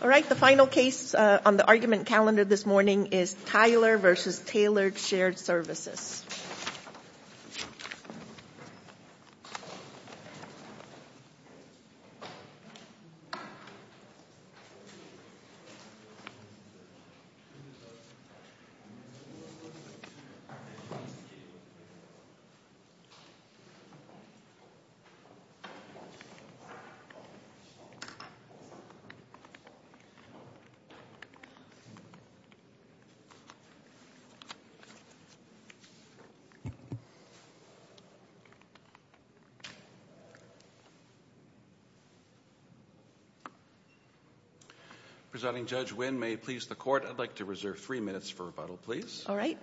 Alright, the final case on the argument calendar this morning is Tyler v. Tailored Shared Presenting Judge Wynn, may it please the court, I'd like to reserve three minutes for rebuttal, please. Alright.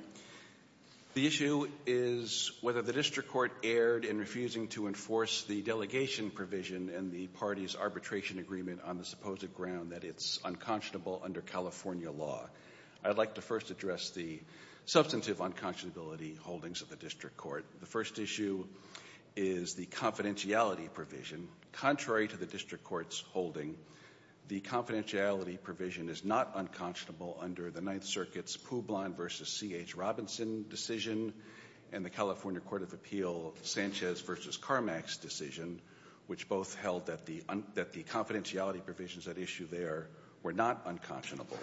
The issue is whether the district court erred in refusing to enforce the delegation provision in the party's arbitration agreement on the supposed ground that it's unconscionable under California law. I'd like to first address the substantive unconscionability holdings of the district court. The first issue is the confidentiality provision. Contrary to the district court's holding, the confidentiality provision is not unconscionable under the Ninth Circuit's Publon v. C.H. Robinson decision and the California Court of Appeal Sanchez v. Carmax decision, which both held that the confidentiality provisions at issue there were not unconscionable.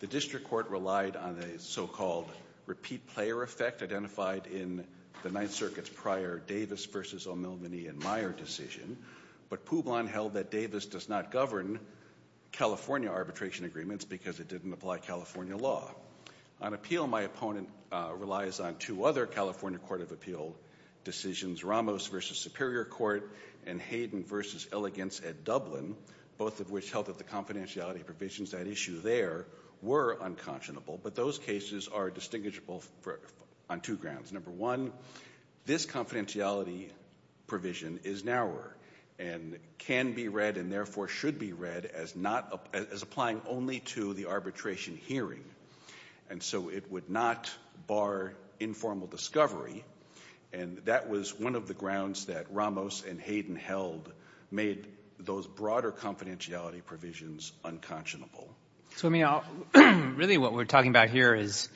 The district court relied on the so-called repeat player effect identified in the Ninth Circuit's prior Davis v. O'Milvaney and Meyer decision, but Publon held that Davis does not govern California arbitration agreements because it didn't apply California law. On appeal, my opponent relies on two other California Court of Appeal decisions, Ramos v. Superior Court and Hayden v. Elegance at Dublin, both of which held that the confidentiality provisions at issue there were unconscionable, but those cases are distinguishable on two grounds. Number one, this confidentiality provision is narrower and can be read and therefore should be read as applying only to the arbitration hearing, and so it would not bar informal discovery, and that was one of the grounds that Ramos and Hayden held made those broader confidentiality provisions unconscionable. So, I mean, really what we're talking about here is,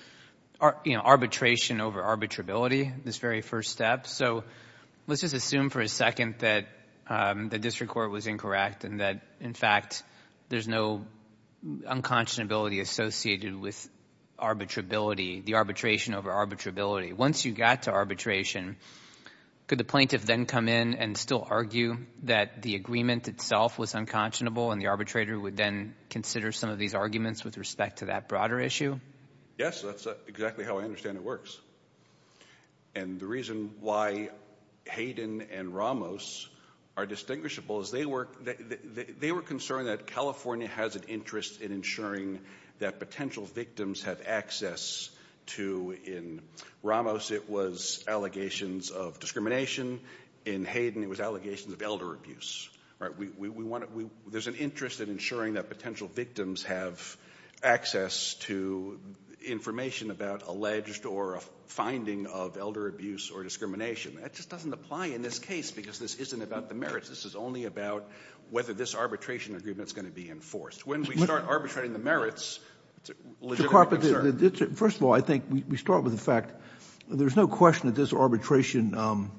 you know, arbitration over arbitrability, this very first step. So let's just assume for a second that the district court was incorrect and that, in fact, there's no unconscionability associated with arbitrability, the arbitration over arbitrability. Once you got to arbitration, could the plaintiff then come in and still argue that the agreement itself was unconscionable and the arbitrator would then consider some of these arguments with respect to that broader issue? Yes, that's exactly how I understand it works. And the reason why Hayden and Ramos are distinguishable is they were concerned that California has an interest in ensuring that potential victims have access to, in Ramos it was allegations of discrimination, in Hayden it was allegations of elder abuse. There's an interest in ensuring that potential victims have access to information about alleged or a finding of elder abuse or discrimination. That just doesn't apply in this case because this isn't about the merits. This is only about whether this arbitration agreement is going to be enforced. When we start arbitrating the merits, it's a legitimate concern. First of all, I think we start with the fact there's no question that this arbitration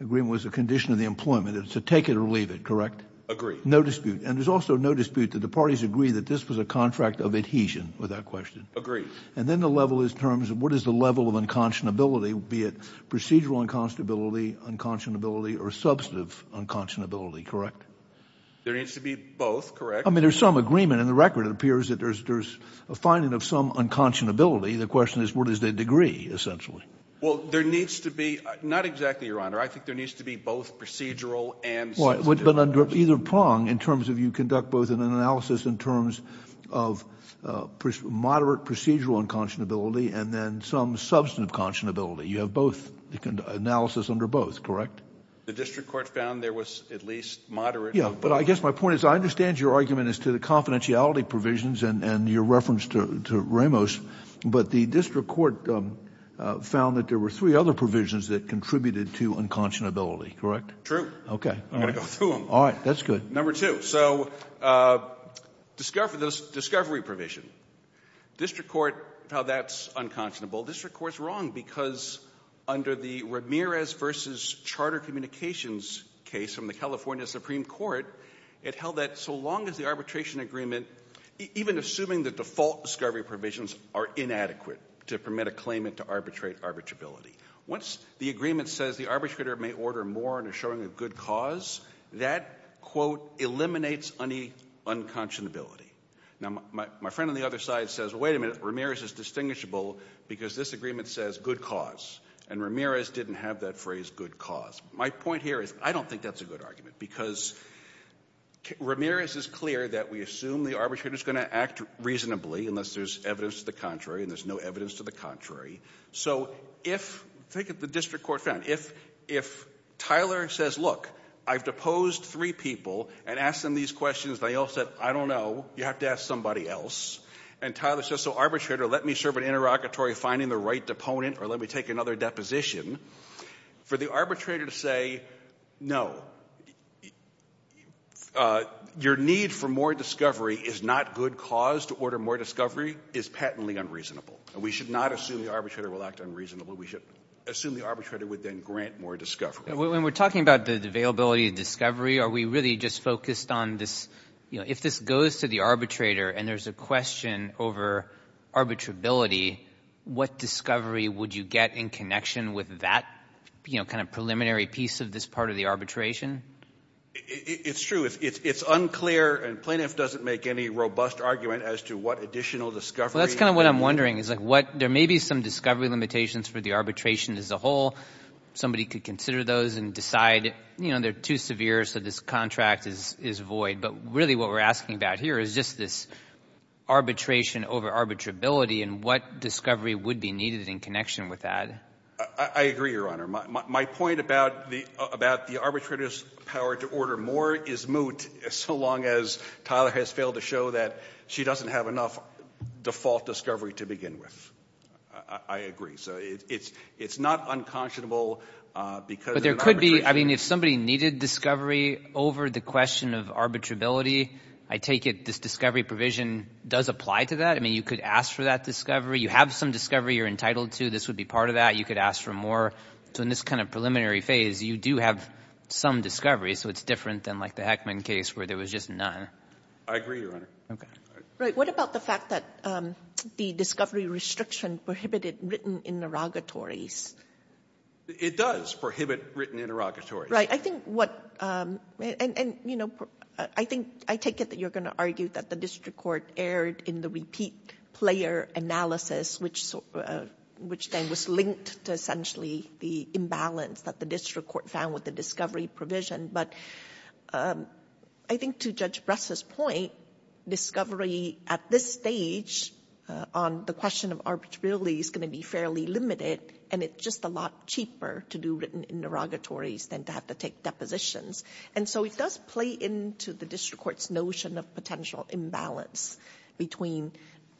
agreement was a condition of the employment. It's a take it or leave it, correct? Agree. No dispute. And there's also no dispute that the parties agree that this was a contract of adhesion with that question. Agree. And then the level is in terms of what is the level of unconscionability, be it procedural unconscionability, unconscionability or substantive unconscionability, correct? There needs to be both, correct? I mean, there's some agreement in the record. It appears that there's a finding of some unconscionability. The question is what is the degree, essentially. Well, there needs to be – not exactly, Your Honor. I think there needs to be both procedural and substantive unconscionability. Either prong in terms of you conduct both an analysis in terms of moderate procedural unconscionability and then some substantive conscionability. You have both analysis under both, correct? The district court found there was at least moderate. Yeah, but I guess my point is I understand your argument as to the confidentiality provisions and your reference to Ramos, but the district court found that there were three other provisions that contributed to unconscionability, correct? Okay. I'm going to go through them. All right. That's good. Number two. So discovery provision. District court found that's unconscionable. District court's wrong because under the Ramirez v. Charter Communications case from the California Supreme Court, it held that so long as the arbitration agreement, even assuming the default discovery provisions, are inadequate to permit a claimant to arbitrate arbitrability. Once the agreement says the arbitrator may order more in a showing of good cause, that, quote, eliminates unconscionability. Now, my friend on the other side says, wait a minute, Ramirez is distinguishable because this agreement says good cause, and Ramirez didn't have that phrase good cause. My point here is I don't think that's a good argument because Ramirez is clear that we assume the arbitrator is going to act reasonably, unless there's evidence to the contrary, and there's no evidence to the contrary. So if the district court found, if Tyler says, look, I've deposed three people and asked them these questions, and they all said, I don't know, you have to ask somebody else, and Tyler says, so arbitrator, let me serve an interrogatory finding the right deponent, or let me take another deposition, for the arbitrator to say, no, your need for more discovery is not good cause to order more discovery is patently unreasonable, and we should not assume the arbitrator will act unreasonably. We should assume the arbitrator would then grant more discovery. When we're talking about the availability of discovery, are we really just focused on this, if this goes to the arbitrator and there's a question over arbitrability, what discovery would you get in connection with that kind of preliminary piece of this part of the arbitration? It's true. It's unclear, and plaintiff doesn't make any robust argument as to what additional discovery. That's kind of what I'm wondering. There may be some discovery limitations for the arbitration as a whole. Somebody could consider those and decide, you know, they're too severe, so this contract is void. But really what we're asking about here is just this arbitration over arbitrability and what discovery would be needed in connection with that. I agree, Your Honor. My point about the arbitrator's power to order more is moot, so long as Tyler has failed to show that she doesn't have enough default discovery to begin with. I agree. So it's not unconscionable because of the arbitration. But there could be, I mean, if somebody needed discovery over the question of arbitrability, I take it this discovery provision does apply to that? I mean, you could ask for that discovery. You have some discovery you're entitled to. This would be part of that. You could ask for more. So in this kind of preliminary phase, you do have some discovery, so it's different than like the Heckman case where there was just none. I agree, Your Honor. Okay. Right. What about the fact that the discovery restriction prohibited written interrogatories? It does prohibit written interrogatories. Right. I think what — and, you know, I think — I take it that you're going to argue that the district court erred in the repeat player analysis, which then was linked to essentially the imbalance that the district court found with the discovery provision. But I think to Judge Bress's point, discovery at this stage on the question of arbitrability is going to be fairly limited, and it's just a lot cheaper to do written interrogatories than to have to take depositions. And so it does play into the district court's notion of potential imbalance between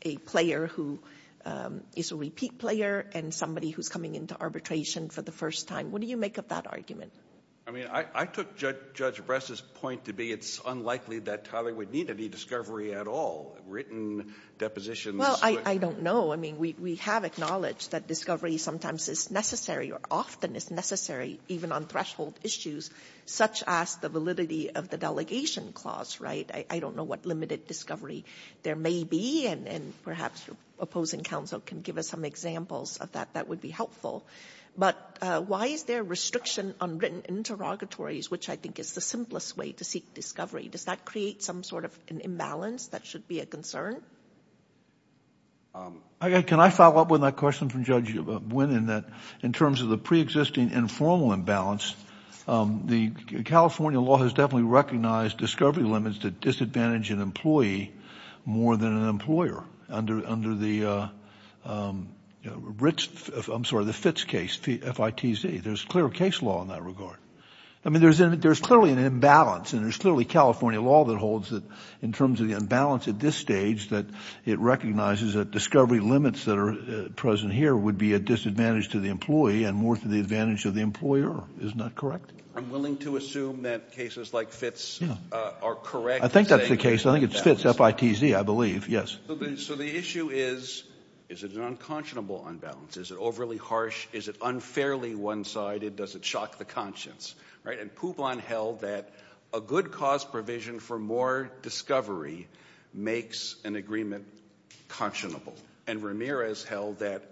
a player who is a repeat player and somebody who's coming into arbitration for the first time. What do you make of that argument? I mean, I took Judge Bress's point to be it's unlikely that Talley would need any discovery at all, written depositions. Well, I don't know. I mean, we have acknowledged that discovery sometimes is necessary or often is necessary even on threshold issues such as the validity of the delegation clause, right? I don't know what limited discovery there may be, and perhaps your opposing counsel can give us some examples of that that would be helpful. But why is there a restriction on written interrogatories, which I think is the simplest way to seek discovery? Does that create some sort of an imbalance that should be a concern? Can I follow up with that question from Judge Wynne in that in terms of the preexisting informal imbalance, the California law has definitely recognized discovery limits to disadvantage an employee more than an employer. Under the FITS case, F-I-T-Z. There's clear case law in that regard. I mean, there's clearly an imbalance, and there's clearly California law that holds that in terms of the imbalance at this stage that it recognizes that discovery limits that are present here would be a disadvantage to the employee and more to the advantage of the employer. Isn't that correct? I'm willing to assume that cases like FITS are correct. I think that's the case. I think it's FITS, F-I-T-Z, I believe. Yes. So the issue is, is it an unconscionable imbalance? Is it overly harsh? Is it unfairly one-sided? Does it shock the conscience? Right? And Poubon held that a good cause provision for more discovery makes an agreement conscionable. And Ramirez held that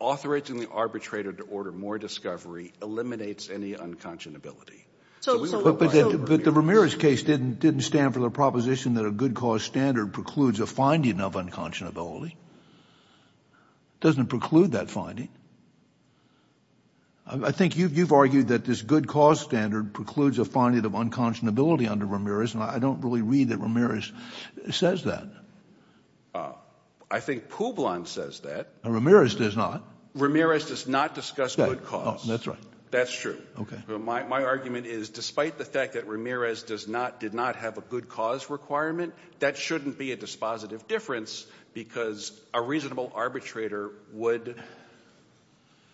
authorizing the arbitrator to order more discovery eliminates any unconscionability. But the Ramirez case didn't stand for the proposition that a good cause standard precludes a finding of unconscionability. It doesn't preclude that finding. I think you've argued that this good cause standard precludes a finding of unconscionability under Ramirez, and I don't really read that Ramirez says that. I think Poubon says that. Ramirez does not. Ramirez does not discuss good cause. That's right. That's true. Okay. My argument is, despite the fact that Ramirez did not have a good cause requirement, that shouldn't be a dispositive difference because a reasonable arbitrator would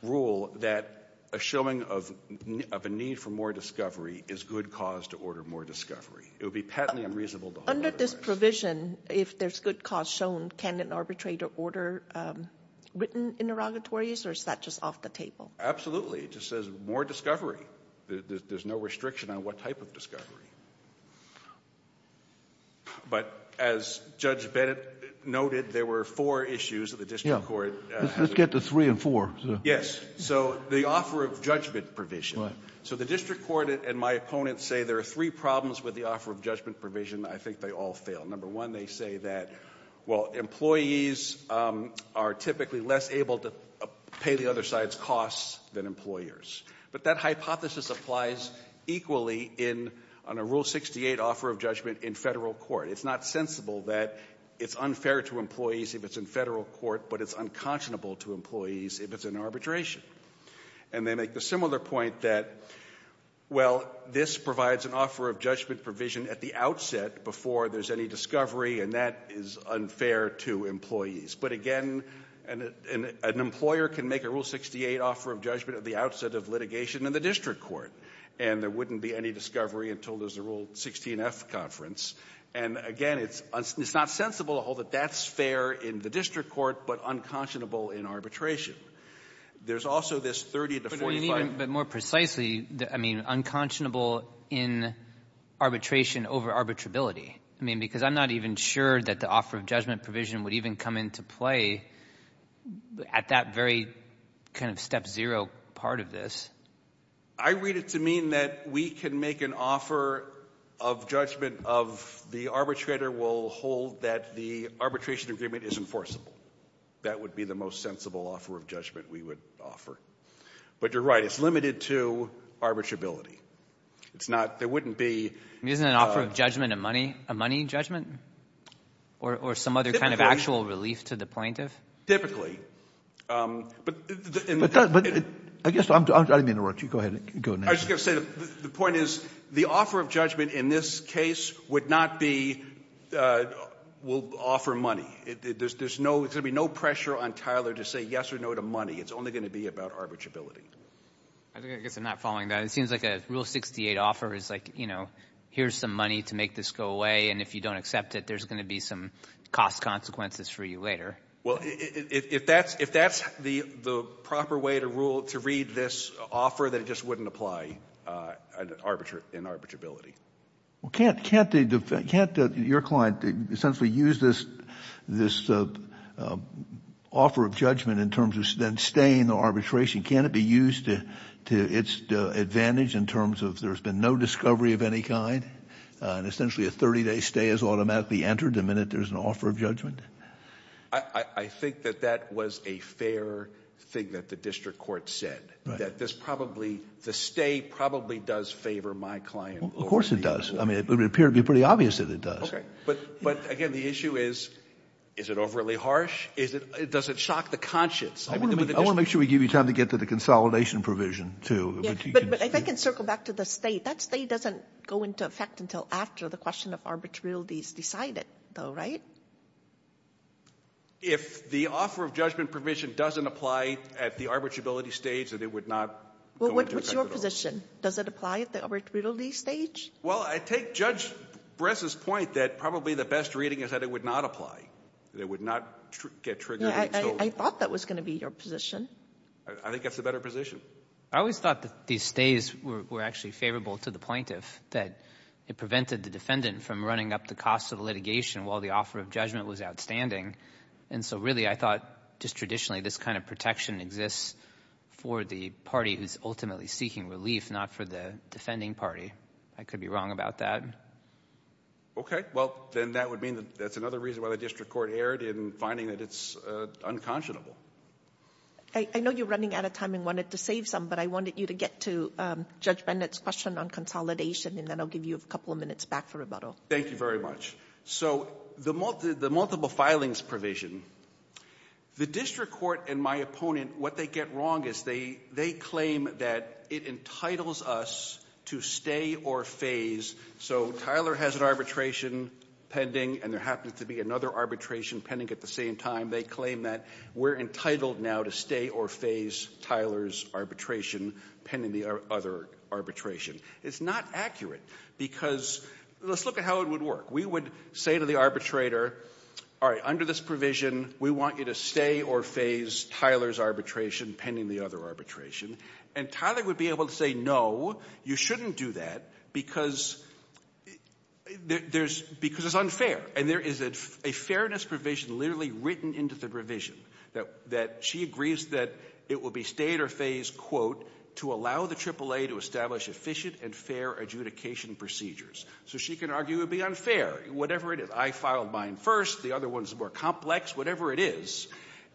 rule that a showing of a need for more discovery is good cause to order more discovery. It would be patently unreasonable to order more discovery. Under this provision, if there's good cause shown, can an arbitrator order written interrogatories, or is that just off the table? Absolutely. It just says more discovery. There's no restriction on what type of discovery. But as Judge Bennett noted, there were four issues that the district court had. Let's get to three and four. Yes. So the offer of judgment provision. Right. So the district court and my opponents say there are three problems with the offer of judgment provision. I think they all fail. Number one, they say that, well, employees are typically less able to pay the other side's costs than employers. But that hypothesis applies equally in a Rule 68 offer of judgment in Federal court. It's not sensible that it's unfair to employees if it's in Federal court, but it's unconscionable to employees if it's in arbitration. And they make the similar point that, well, this provides an offer of judgment provision at the outset before there's any discovery, and that is unfair to employees. But, again, an employer can make a Rule 68 offer of judgment at the outset of litigation in the district court, and there wouldn't be any discovery until there's a Rule 16F conference. And, again, it's not sensible to hold that that's fair in the district court, but unconscionable in arbitration. There's also this 30 to 45. But more precisely, I mean, unconscionable in arbitration over arbitrability. I mean, because I'm not even sure that the offer of judgment provision would even come into play at that very kind of step zero part of this. I read it to mean that we can make an offer of judgment of the arbitrator will hold that the arbitration agreement is enforceable. That would be the most sensible offer of judgment we would offer. But you're right. It's limited to arbitrability. It's not — there wouldn't be — Isn't an offer of judgment a money judgment? Or some other kind of actual relief to the plaintiff? But in the — But I guess I'm — I didn't mean to interrupt you. Go ahead. Go ahead. I was just going to say the point is the offer of judgment in this case would not be — will offer money. There's no — there's going to be no pressure on Tyler to say yes or no to money. It's only going to be about arbitrability. I guess I'm not following that. It seems like a Rule 68 offer is like, you know, here's some money to make this go away, and if you don't accept it, there's going to be some cost consequences for you later. Well, if that's the proper way to read this offer, then it just wouldn't apply in arbitrability. Well, can't your client essentially use this offer of judgment in terms of then staying the arbitration? Can't it be used to its advantage in terms of there's been no discovery of any kind? And essentially a 30-day stay is automatically entered the minute there's an offer of judgment? I think that that was a fair thing that the district court said, that this probably — the stay probably does favor my client. Of course it does. I mean, it would appear to be pretty obvious that it does. Okay. But, again, the issue is, is it overly harsh? Does it shock the conscience? I want to make sure we give you time to get to the consolidation provision, too. But if I can circle back to the stay, that stay doesn't go into effect until after the question of arbitrabilities decided, though, right? If the offer of judgment provision doesn't apply at the arbitrability stage, then it would not go into effect at all. Well, what's your position? Does it apply at the arbitrability stage? Well, I take Judge Bress's point that probably the best reading is that it would not apply, that it would not get triggered until — I thought that was going to be your position. I think that's a better position. I always thought that these stays were actually favorable to the plaintiff, that it prevented the defendant from running up the cost of litigation while the offer of judgment was outstanding. And so, really, I thought just traditionally this kind of protection exists for the party who's ultimately seeking relief, not for the defending party. I could be wrong about that. Okay. Well, then that would mean that that's another reason why the district court erred in finding that it's unconscionable. I know you're running out of time and wanted to save some, but I wanted you to get to Judge Bennett's question on consolidation, and then I'll give you a couple of minutes back for rebuttal. Thank you very much. So the multiple filings provision, the district court and my opponent, what they get wrong is they claim that it entitles us to stay or phase. So Tyler has an arbitration pending, and there happens to be another arbitration pending at the same time. They claim that we're entitled now to stay or phase Tyler's arbitration pending the other arbitration. It's not accurate because let's look at how it would work. We would say to the arbitrator, all right, under this provision, we want you to stay or phase Tyler's arbitration pending the other arbitration. And Tyler would be able to say, no, you shouldn't do that because it's unfair. And there is a fairness provision literally written into the provision that she agrees that it will be stay or phase, quote, to allow the AAA to establish efficient and fair adjudication procedures. So she can argue it would be unfair, whatever it is. I filed mine first. The other one is more complex. Whatever it is.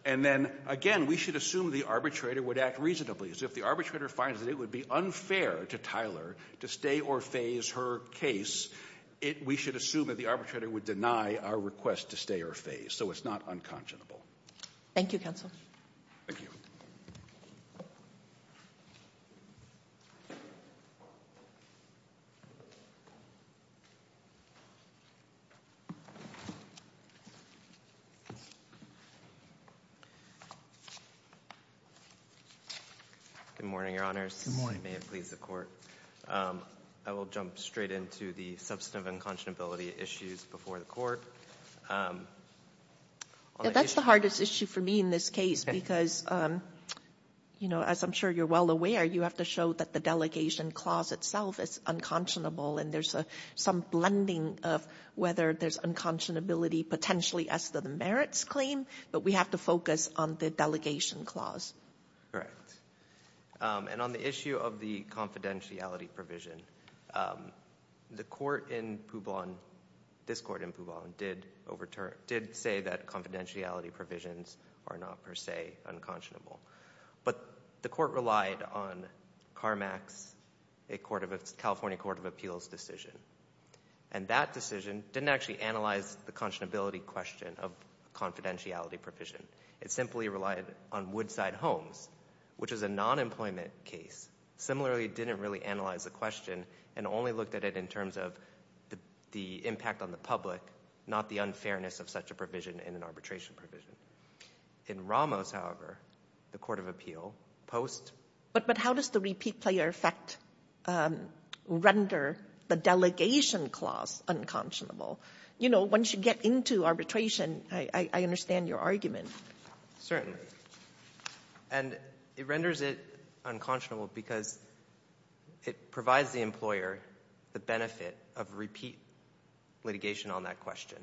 And then, again, we should assume the arbitrator would act reasonably. So if the arbitrator finds that it would be unfair to Tyler to stay or phase her case, we should assume that the arbitrator would deny our request to stay or phase. So it's not unconscionable. Thank you, counsel. Thank you. Good morning, your honors. Good morning. May it please the court. I will jump straight into the substantive unconscionability issues before the court. That's the hardest issue for me in this case because, you know, as I'm sure you're well aware, you have to show that the delegation clause itself is unconscionable. And there's some blending of whether there's unconscionability potentially as to the merits claim. But we have to focus on the delegation clause. Correct. And on the issue of the confidentiality provision, the court in Poubon, this court in Poubon, did say that confidentiality provisions are not per se unconscionable. But the court relied on Carmack's California Court of Appeals decision. And that decision didn't actually analyze the conscionability question of confidentiality provision. It simply relied on Woodside Homes, which is a non-employment case. Similarly, it didn't really analyze the question and only looked at it in terms of the impact on the public, not the unfairness of such a provision in an arbitration provision. In Ramos, however, the court of appeal, post- But how does the repeat player effect render the delegation clause unconscionable? You know, once you get into arbitration, I understand your argument. And it renders it unconscionable because it provides the employer the benefit of repeat litigation on that question.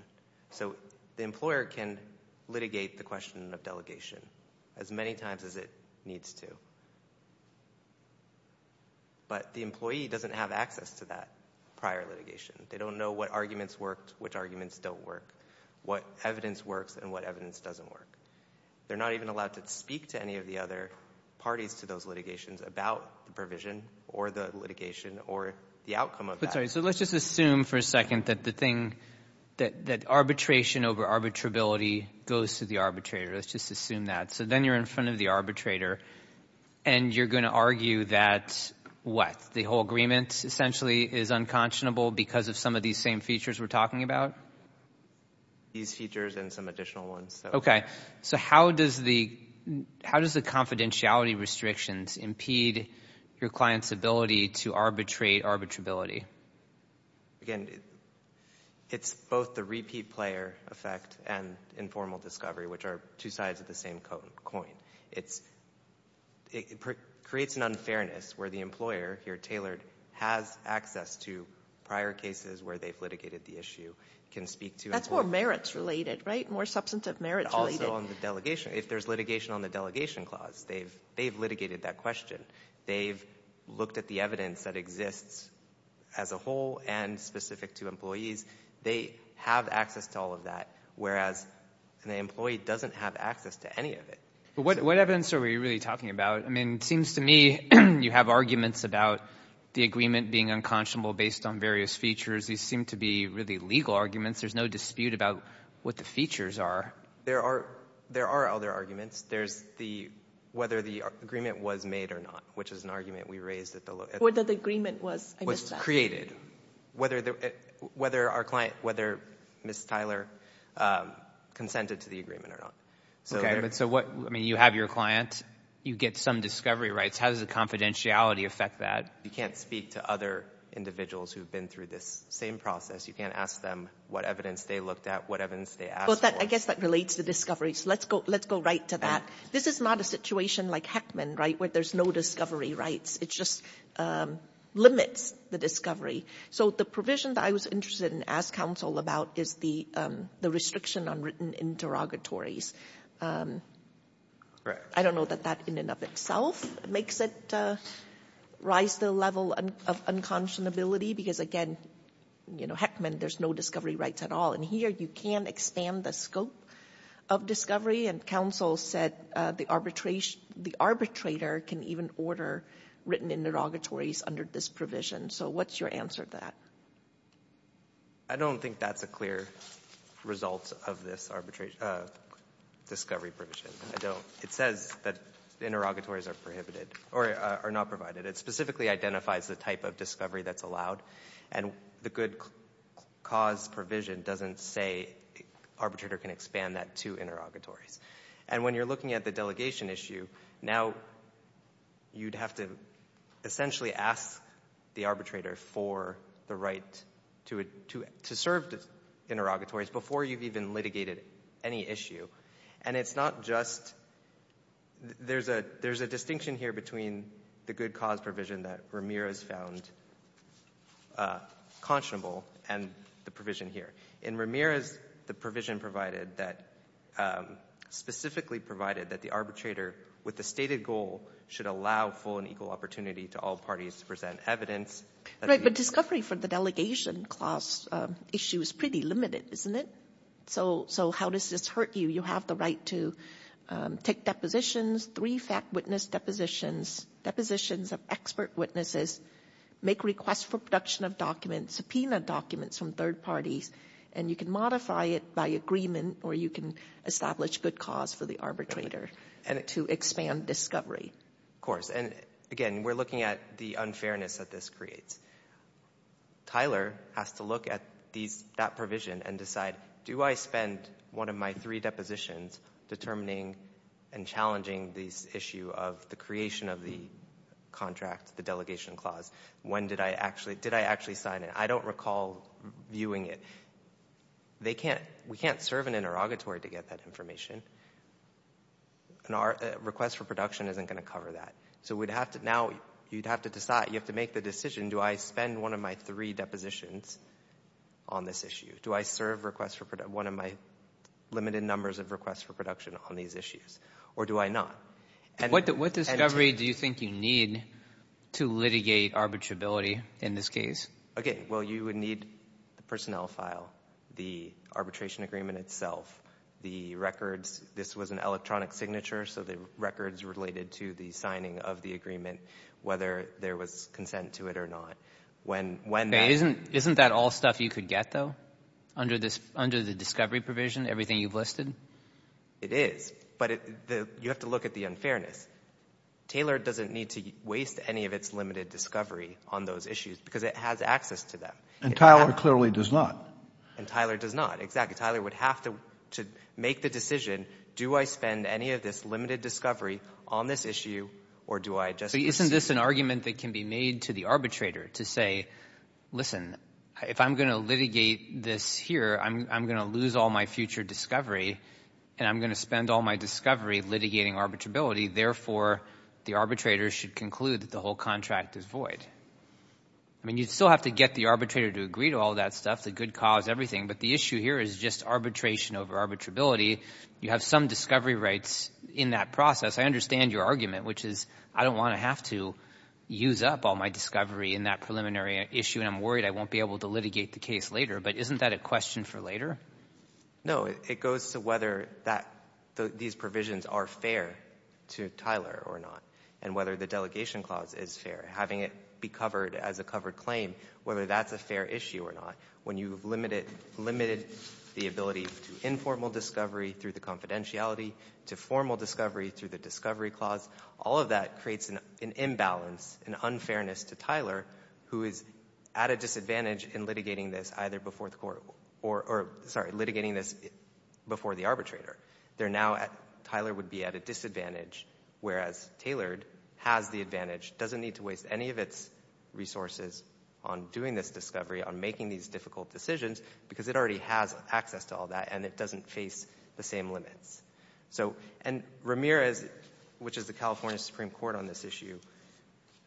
So the employer can litigate the question of delegation as many times as it needs to. But the employee doesn't have access to that prior litigation. They don't know what arguments worked, which arguments don't work, what evidence works, and what evidence doesn't work. They're not even allowed to speak to any of the other parties to those litigations about the provision or the litigation or the outcome of that. So let's just assume for a second that the thing that arbitration over arbitrability goes to the arbitrator. Let's just assume that. So then you're in front of the arbitrator, and you're going to argue that what? The whole agreement essentially is unconscionable because of some of these same features we're talking about? These features and some additional ones. Okay. So how does the confidentiality restrictions impede your client's ability to arbitrate arbitrability? Again, it's both the repeat player effect and informal discovery, which are two sides of the same coin. It creates an unfairness where the employer, here tailored, has access to prior cases where they've litigated the issue, can speak to it. That's more merits related, right? More substantive merits related. Also on the delegation. If there's litigation on the delegation clause, they've litigated that question. They've looked at the evidence that exists as a whole and specific to employees. They have access to all of that, whereas an employee doesn't have access to any of it. But what evidence are we really talking about? I mean, it seems to me you have arguments about the agreement being unconscionable based on various features. These seem to be really legal arguments. There's no dispute about what the features are. There are other arguments. There's whether the agreement was made or not, which is an argument we raised. Whether the agreement was, I missed that. Was created. Whether our client, whether Ms. Tyler consented to the agreement or not. Okay, but so what, I mean, you have your client. You get some discovery rights. How does the confidentiality affect that? You can't speak to other individuals who have been through this same process. You can't ask them what evidence they looked at, what evidence they asked for. I guess that relates to discovery, so let's go right to that. This is not a situation like Heckman, right, where there's no discovery rights. It just limits the discovery. So the provision that I was interested in asking counsel about is the restriction on written interrogatories. I don't know that that in and of itself makes it rise to the level of unconscionability, because, again, Heckman, there's no discovery rights at all. And here you can expand the scope of discovery. And counsel said the arbitrator can even order written interrogatories under this provision. So what's your answer to that? I don't think that's a clear result of this discovery provision. It says that interrogatories are prohibited or are not provided. It specifically identifies the type of discovery that's allowed. And the good cause provision doesn't say arbitrator can expand that to interrogatories. And when you're looking at the delegation issue, now you'd have to essentially ask the arbitrator for the right to serve interrogatories before you've even litigated any issue. And it's not just – there's a distinction here between the good cause provision that Ramirez found conscionable and the provision here. In Ramirez, the provision provided that – specifically provided that the arbitrator, with the stated goal, should allow full and equal opportunity to all parties to present evidence. Right, but discovery for the delegation clause issue is pretty limited, isn't it? So how does this hurt you? You have the right to take depositions, three fact witness depositions, depositions of expert witnesses, make requests for production of documents, subpoena documents from third parties, and you can modify it by agreement or you can establish good cause for the arbitrator to expand discovery. Of course. And again, we're looking at the unfairness that this creates. Tyler has to look at these – that provision and decide, do I spend one of my three depositions determining and challenging this issue of the creation of the contract, the delegation clause? When did I actually – did I actually sign it? I don't recall viewing it. They can't – we can't serve an interrogatory to get that information. And our request for production isn't going to cover that. So we'd have to – now you'd have to decide, you have to make the decision, do I spend one of my three depositions on this issue? Do I serve requests for – one of my limited numbers of requests for production on these issues? Or do I not? What discovery do you think you need to litigate arbitrability in this case? Okay, well, you would need the personnel file, the arbitration agreement itself, the records. This was an electronic signature, so the records related to the signing of the agreement, whether there was consent to it or not. Isn't that all stuff you could get, though, under the discovery provision, everything you've listed? It is. But you have to look at the unfairness. Taylor doesn't need to waste any of its limited discovery on those issues because it has access to them. And Tyler clearly does not. And Tyler does not. Exactly. And Tyler would have to make the decision, do I spend any of this limited discovery on this issue, or do I just – But isn't this an argument that can be made to the arbitrator to say, listen, if I'm going to litigate this here, I'm going to lose all my future discovery, and I'm going to spend all my discovery litigating arbitrability. Therefore, the arbitrator should conclude that the whole contract is void. I mean, you'd still have to get the arbitrator to agree to all that stuff, the good cause, everything. But the issue here is just arbitration over arbitrability. You have some discovery rights in that process. I understand your argument, which is I don't want to have to use up all my discovery in that preliminary issue, and I'm worried I won't be able to litigate the case later. But isn't that a question for later? No. It goes to whether these provisions are fair to Tyler or not and whether the delegation clause is fair, having it be covered as a covered claim, whether that's a fair issue or not. When you've limited the ability to informal discovery through the confidentiality, to formal discovery through the discovery clause, all of that creates an imbalance, an unfairness to Tyler, who is at a disadvantage in litigating this either before the court or, sorry, litigating this before the arbitrator. They're now at, Tyler would be at a disadvantage, whereas Taylor has the advantage, doesn't need to waste any of its resources on doing this discovery, on making these difficult decisions, because it already has access to all that and it doesn't face the same limits. And Ramirez, which is the California Supreme Court on this issue,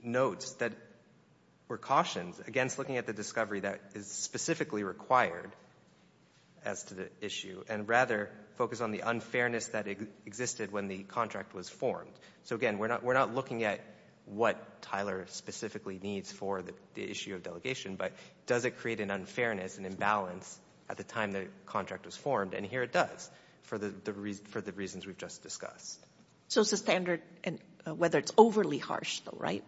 notes that precautions against looking at the discovery that is specifically required as to the issue and rather focus on the unfairness that existed when the contract was formed. So, again, we're not looking at what Tyler specifically needs for the issue of delegation, but does it create an unfairness, an imbalance at the time the contract was formed? And here it does for the reasons we've just discussed. So it's the standard whether it's overly harsh, though, right?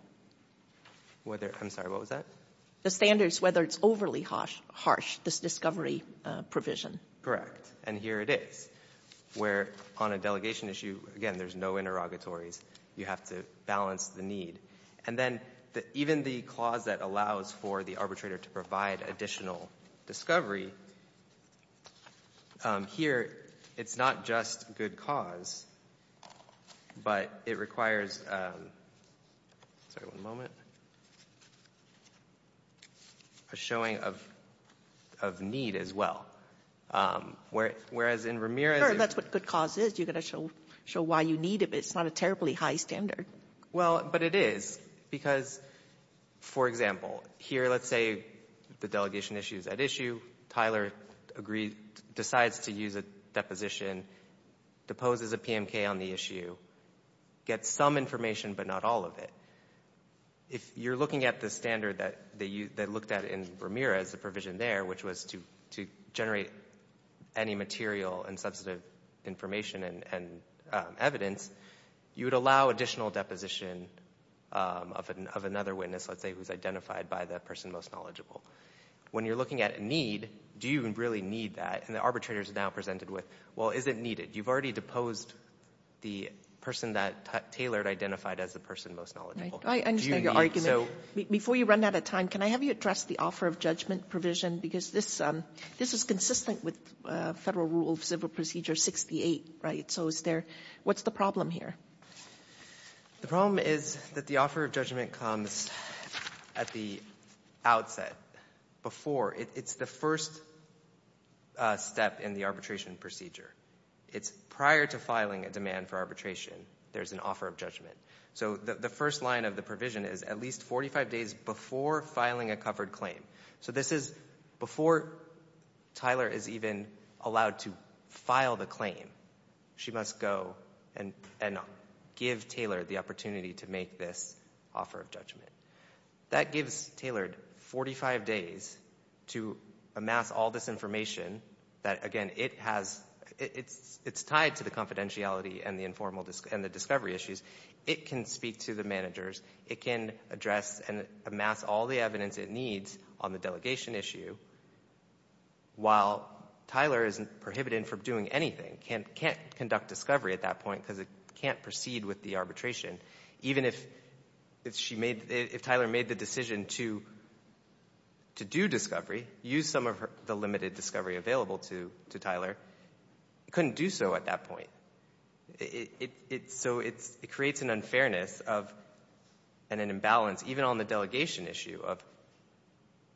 I'm sorry, what was that? The standards whether it's overly harsh, this discovery provision. Correct. And here it is, where on a delegation issue, again, there's no interrogatories. You have to balance the need. And then even the clause that allows for the arbitrator to provide additional discovery, here it's not just good cause, but it requires a showing of need as well, whereas in Ramirez... Sure, that's what good cause is. You've got to show why you need it, but it's not a terribly high standard. Well, but it is, because, for example, here let's say the delegation issue is at issue. Tyler decides to use a deposition, deposes a PMK on the issue, gets some information but not all of it. If you're looking at the standard that looked at in Ramirez, the provision there, which was to generate any material and substantive information and evidence, you would allow additional deposition of another witness, let's say, who's identified by the person most knowledgeable. When you're looking at need, do you really need that? And the arbitrator is now presented with, well, is it needed? You've already deposed the person that Taylor had identified as the person most knowledgeable. I understand your argument. Before you run out of time, can I have you address the offer of judgment provision? Because this is consistent with Federal Rule of Civil Procedure 68, right? So what's the problem here? The problem is that the offer of judgment comes at the outset, before. It's the first step in the arbitration procedure. It's prior to filing a demand for arbitration, there's an offer of judgment. So the first line of the provision is at least 45 days before filing a covered claim. So this is before Tyler is even allowed to file the claim, she must go and give Taylor the opportunity to make this offer of judgment. That gives Taylor 45 days to amass all this information that, again, it's tied to the confidentiality and the discovery issues. It can speak to the managers. It can address and amass all the evidence it needs on the delegation issue while Tyler isn't prohibited from doing anything, can't conduct discovery at that point because it can't proceed with the arbitration. Even if she made, if Tyler made the decision to do discovery, use some of the limited discovery available to Tyler, couldn't do so at that point. So it creates an unfairness and an imbalance, even on the delegation issue of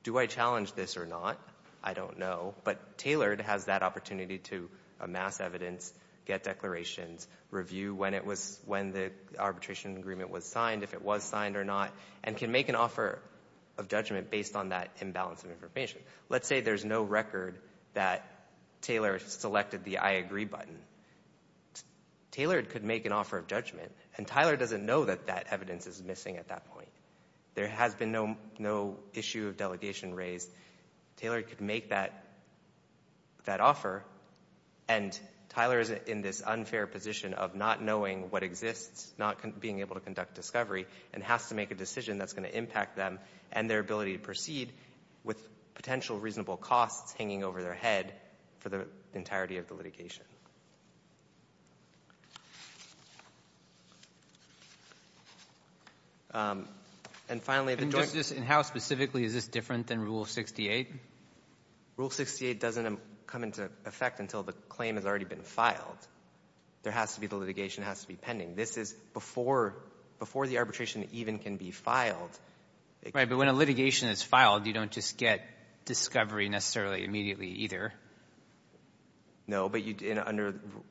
do I challenge this or not, I don't know. But Taylor has that opportunity to amass evidence, get declarations, review when the arbitration agreement was signed, if it was signed or not, and can make an offer of judgment based on that imbalance of information. Let's say there's no record that Taylor selected the I agree button. Taylor could make an offer of judgment, and Tyler doesn't know that that evidence is missing at that point. There has been no issue of delegation raised. Taylor could make that offer, and Tyler is in this unfair position of not knowing what exists, not being able to conduct discovery, and has to make a decision that's going to impact them and their ability to proceed with potential reasonable costs hanging over their head for the entirety of the litigation. And finally, the joint... And how specifically is this different than Rule 68? Rule 68 doesn't come into effect until the claim has already been filed. There has to be, the litigation has to be pending. This is before the arbitration even can be filed. Right, but when a litigation is filed, you don't just get discovery necessarily immediately either. No, but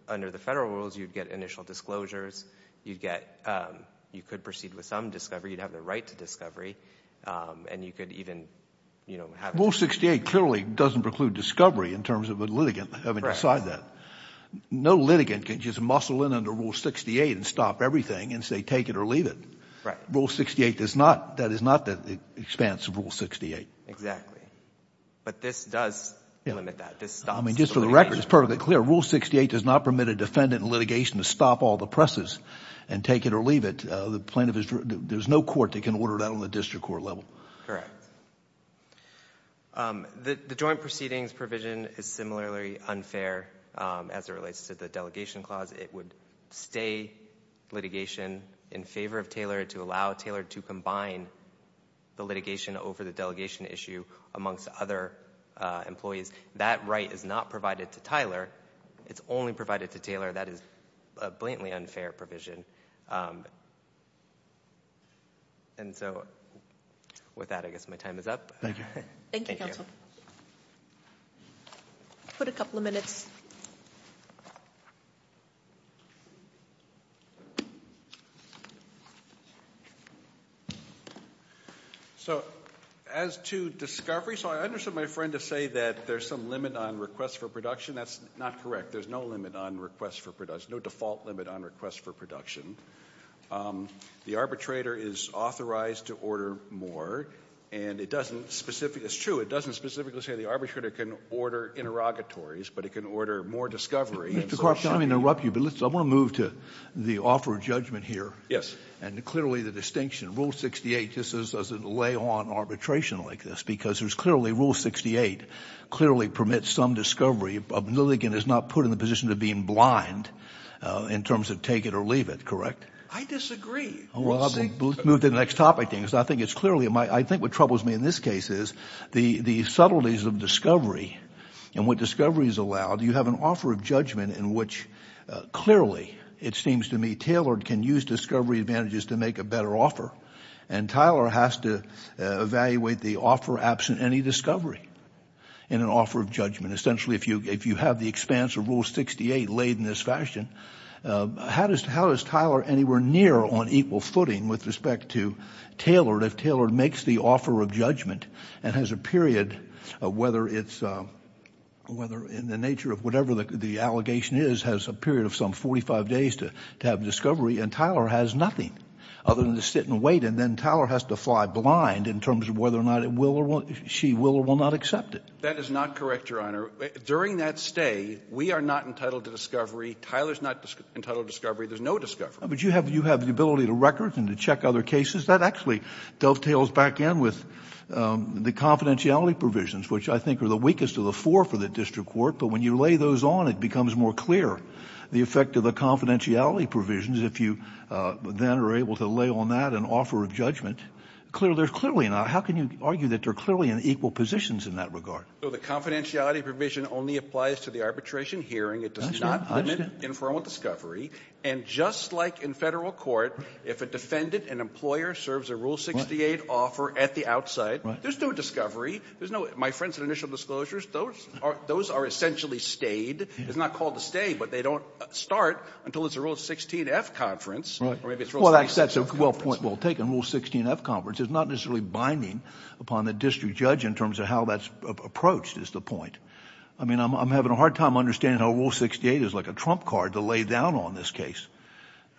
under the federal rules, you'd get initial disclosures. You could proceed with some discovery. You'd have the right to discovery, and you could even have... Rule 68 clearly doesn't preclude discovery in terms of a litigant having to decide that. No litigant can just muscle in under Rule 68 and stop everything and say take it or leave it. Rule 68 does not. That is not the expanse of Rule 68. Exactly. But this does limit that. I mean, just for the record, it's perfectly clear. Rule 68 does not permit a defendant in litigation to stop all the presses and take it or leave it. There's no court that can order that on the district court level. Correct. The joint proceedings provision is similarly unfair as it relates to the delegation clause. It would stay litigation in favor of Taylor to allow Taylor to combine the litigation over the delegation issue amongst other employees. That right is not provided to Tyler. It's only provided to Taylor. That is a blatantly unfair provision. And so with that, I guess my time is up. Thank you, counsel. I'll put a couple of minutes. So as to discovery, so I understood my friend to say that there's some limit on requests for production. That's not correct. There's no limit on requests for production, there's no default limit on requests for production. The arbitrator is authorized to order more. And it doesn't specifically, it's true, it doesn't specifically say the arbitrator can order interrogatories, but it can order more discovery. Mr. Korf, if I may interrupt you, but I want to move to the offer of judgment here. Yes. And clearly the distinction, Rule 68, just doesn't lay on arbitration like this because there's clearly Rule 68 clearly permits some discovery and the obnoligant is not put in the position of being blind in terms of take it or leave it, correct? I disagree. Well, I'll move to the next topic then because I think it's clearly, I think what troubles me in this case is the subtleties of discovery and what discovery has allowed. You have an offer of judgment in which clearly, it seems to me, Taylor can use discovery advantages to make a better offer. And Tyler has to evaluate the offer absent any discovery in an offer of judgment. And essentially if you have the expanse of Rule 68 laid in this fashion, how is Tyler anywhere near on equal footing with respect to Taylor if Taylor makes the offer of judgment and has a period of whether it's, whether in the nature of whatever the allegation is, has a period of some 45 days to have discovery and Tyler has nothing other than to sit and wait and then Tyler has to fly blind in terms of whether or not it will or won't, she will or will not accept it. That is not correct, Your Honor. During that stay, we are not entitled to discovery. Tyler's not entitled to discovery. There's no discovery. But you have the ability to record and to check other cases. That actually dovetails back in with the confidentiality provisions which I think are the weakest of the four for the district court. But when you lay those on, it becomes more clear the effect of the confidentiality provisions if you then are able to lay on that an offer of judgment. There's clearly not, but how can you argue that they're clearly in equal positions in that regard? The confidentiality provision only applies to the arbitration hearing. It does not limit informal discovery. And just like in federal court, if a defendant, an employer, serves a Rule 68 offer at the outside, there's no discovery. My friends at initial disclosures, those are essentially stayed. It's not called a stay, but they don't start until it's a Rule 16-F conference. Well, that's a well-taken Rule 16-F conference. It's not necessarily binding upon the district judge in terms of how that's approached is the point. I mean, I'm having a hard time understanding how Rule 68 is like a trump card to lay down on this case.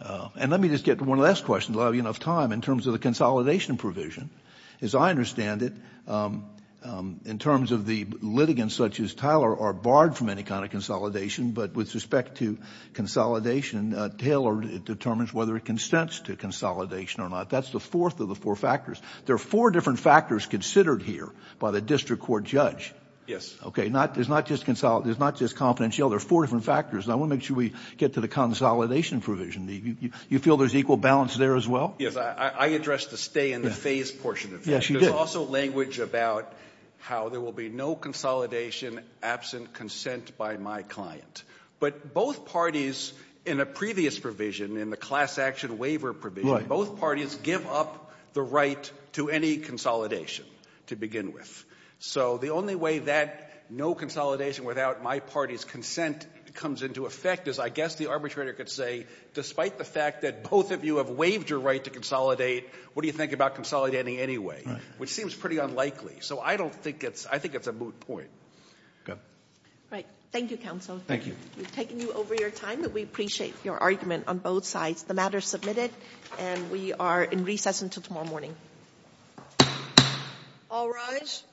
And let me just get to one last question to allow you enough time in terms of the consolidation provision. As I understand it, in terms of the litigants such as Tyler are barred from any kind of consolidation, but with respect to consolidation, Taylor determines whether it consents to consolidation or not. That's the fourth of the four factors. There are four different factors considered here by the district court judge. Okay. There's not just confidentiality. There are four different factors. And I want to make sure we get to the consolidation provision. You feel there's equal balance there as well? Yes. I addressed the stay in the phase portion of that. Yes, you did. There's also language about how there will be no consolidation absent consent by my client. But both parties in a previous provision, in the class action waiver provision, both parties give up the right to any consolidation to begin with. So the only way that no consolidation without my party's consent comes into effect is, I guess the arbitrator could say, despite the fact that both of you have waived your right to consolidate, what do you think about consolidating anyway? Right. Which seems pretty unlikely. So I don't think it's — I think it's a moot point. Go ahead. Right. Thank you, counsel. Thank you. We've taken you over your time, but we appreciate your argument on both sides. The matter is submitted and we are in recess until tomorrow morning. All rise.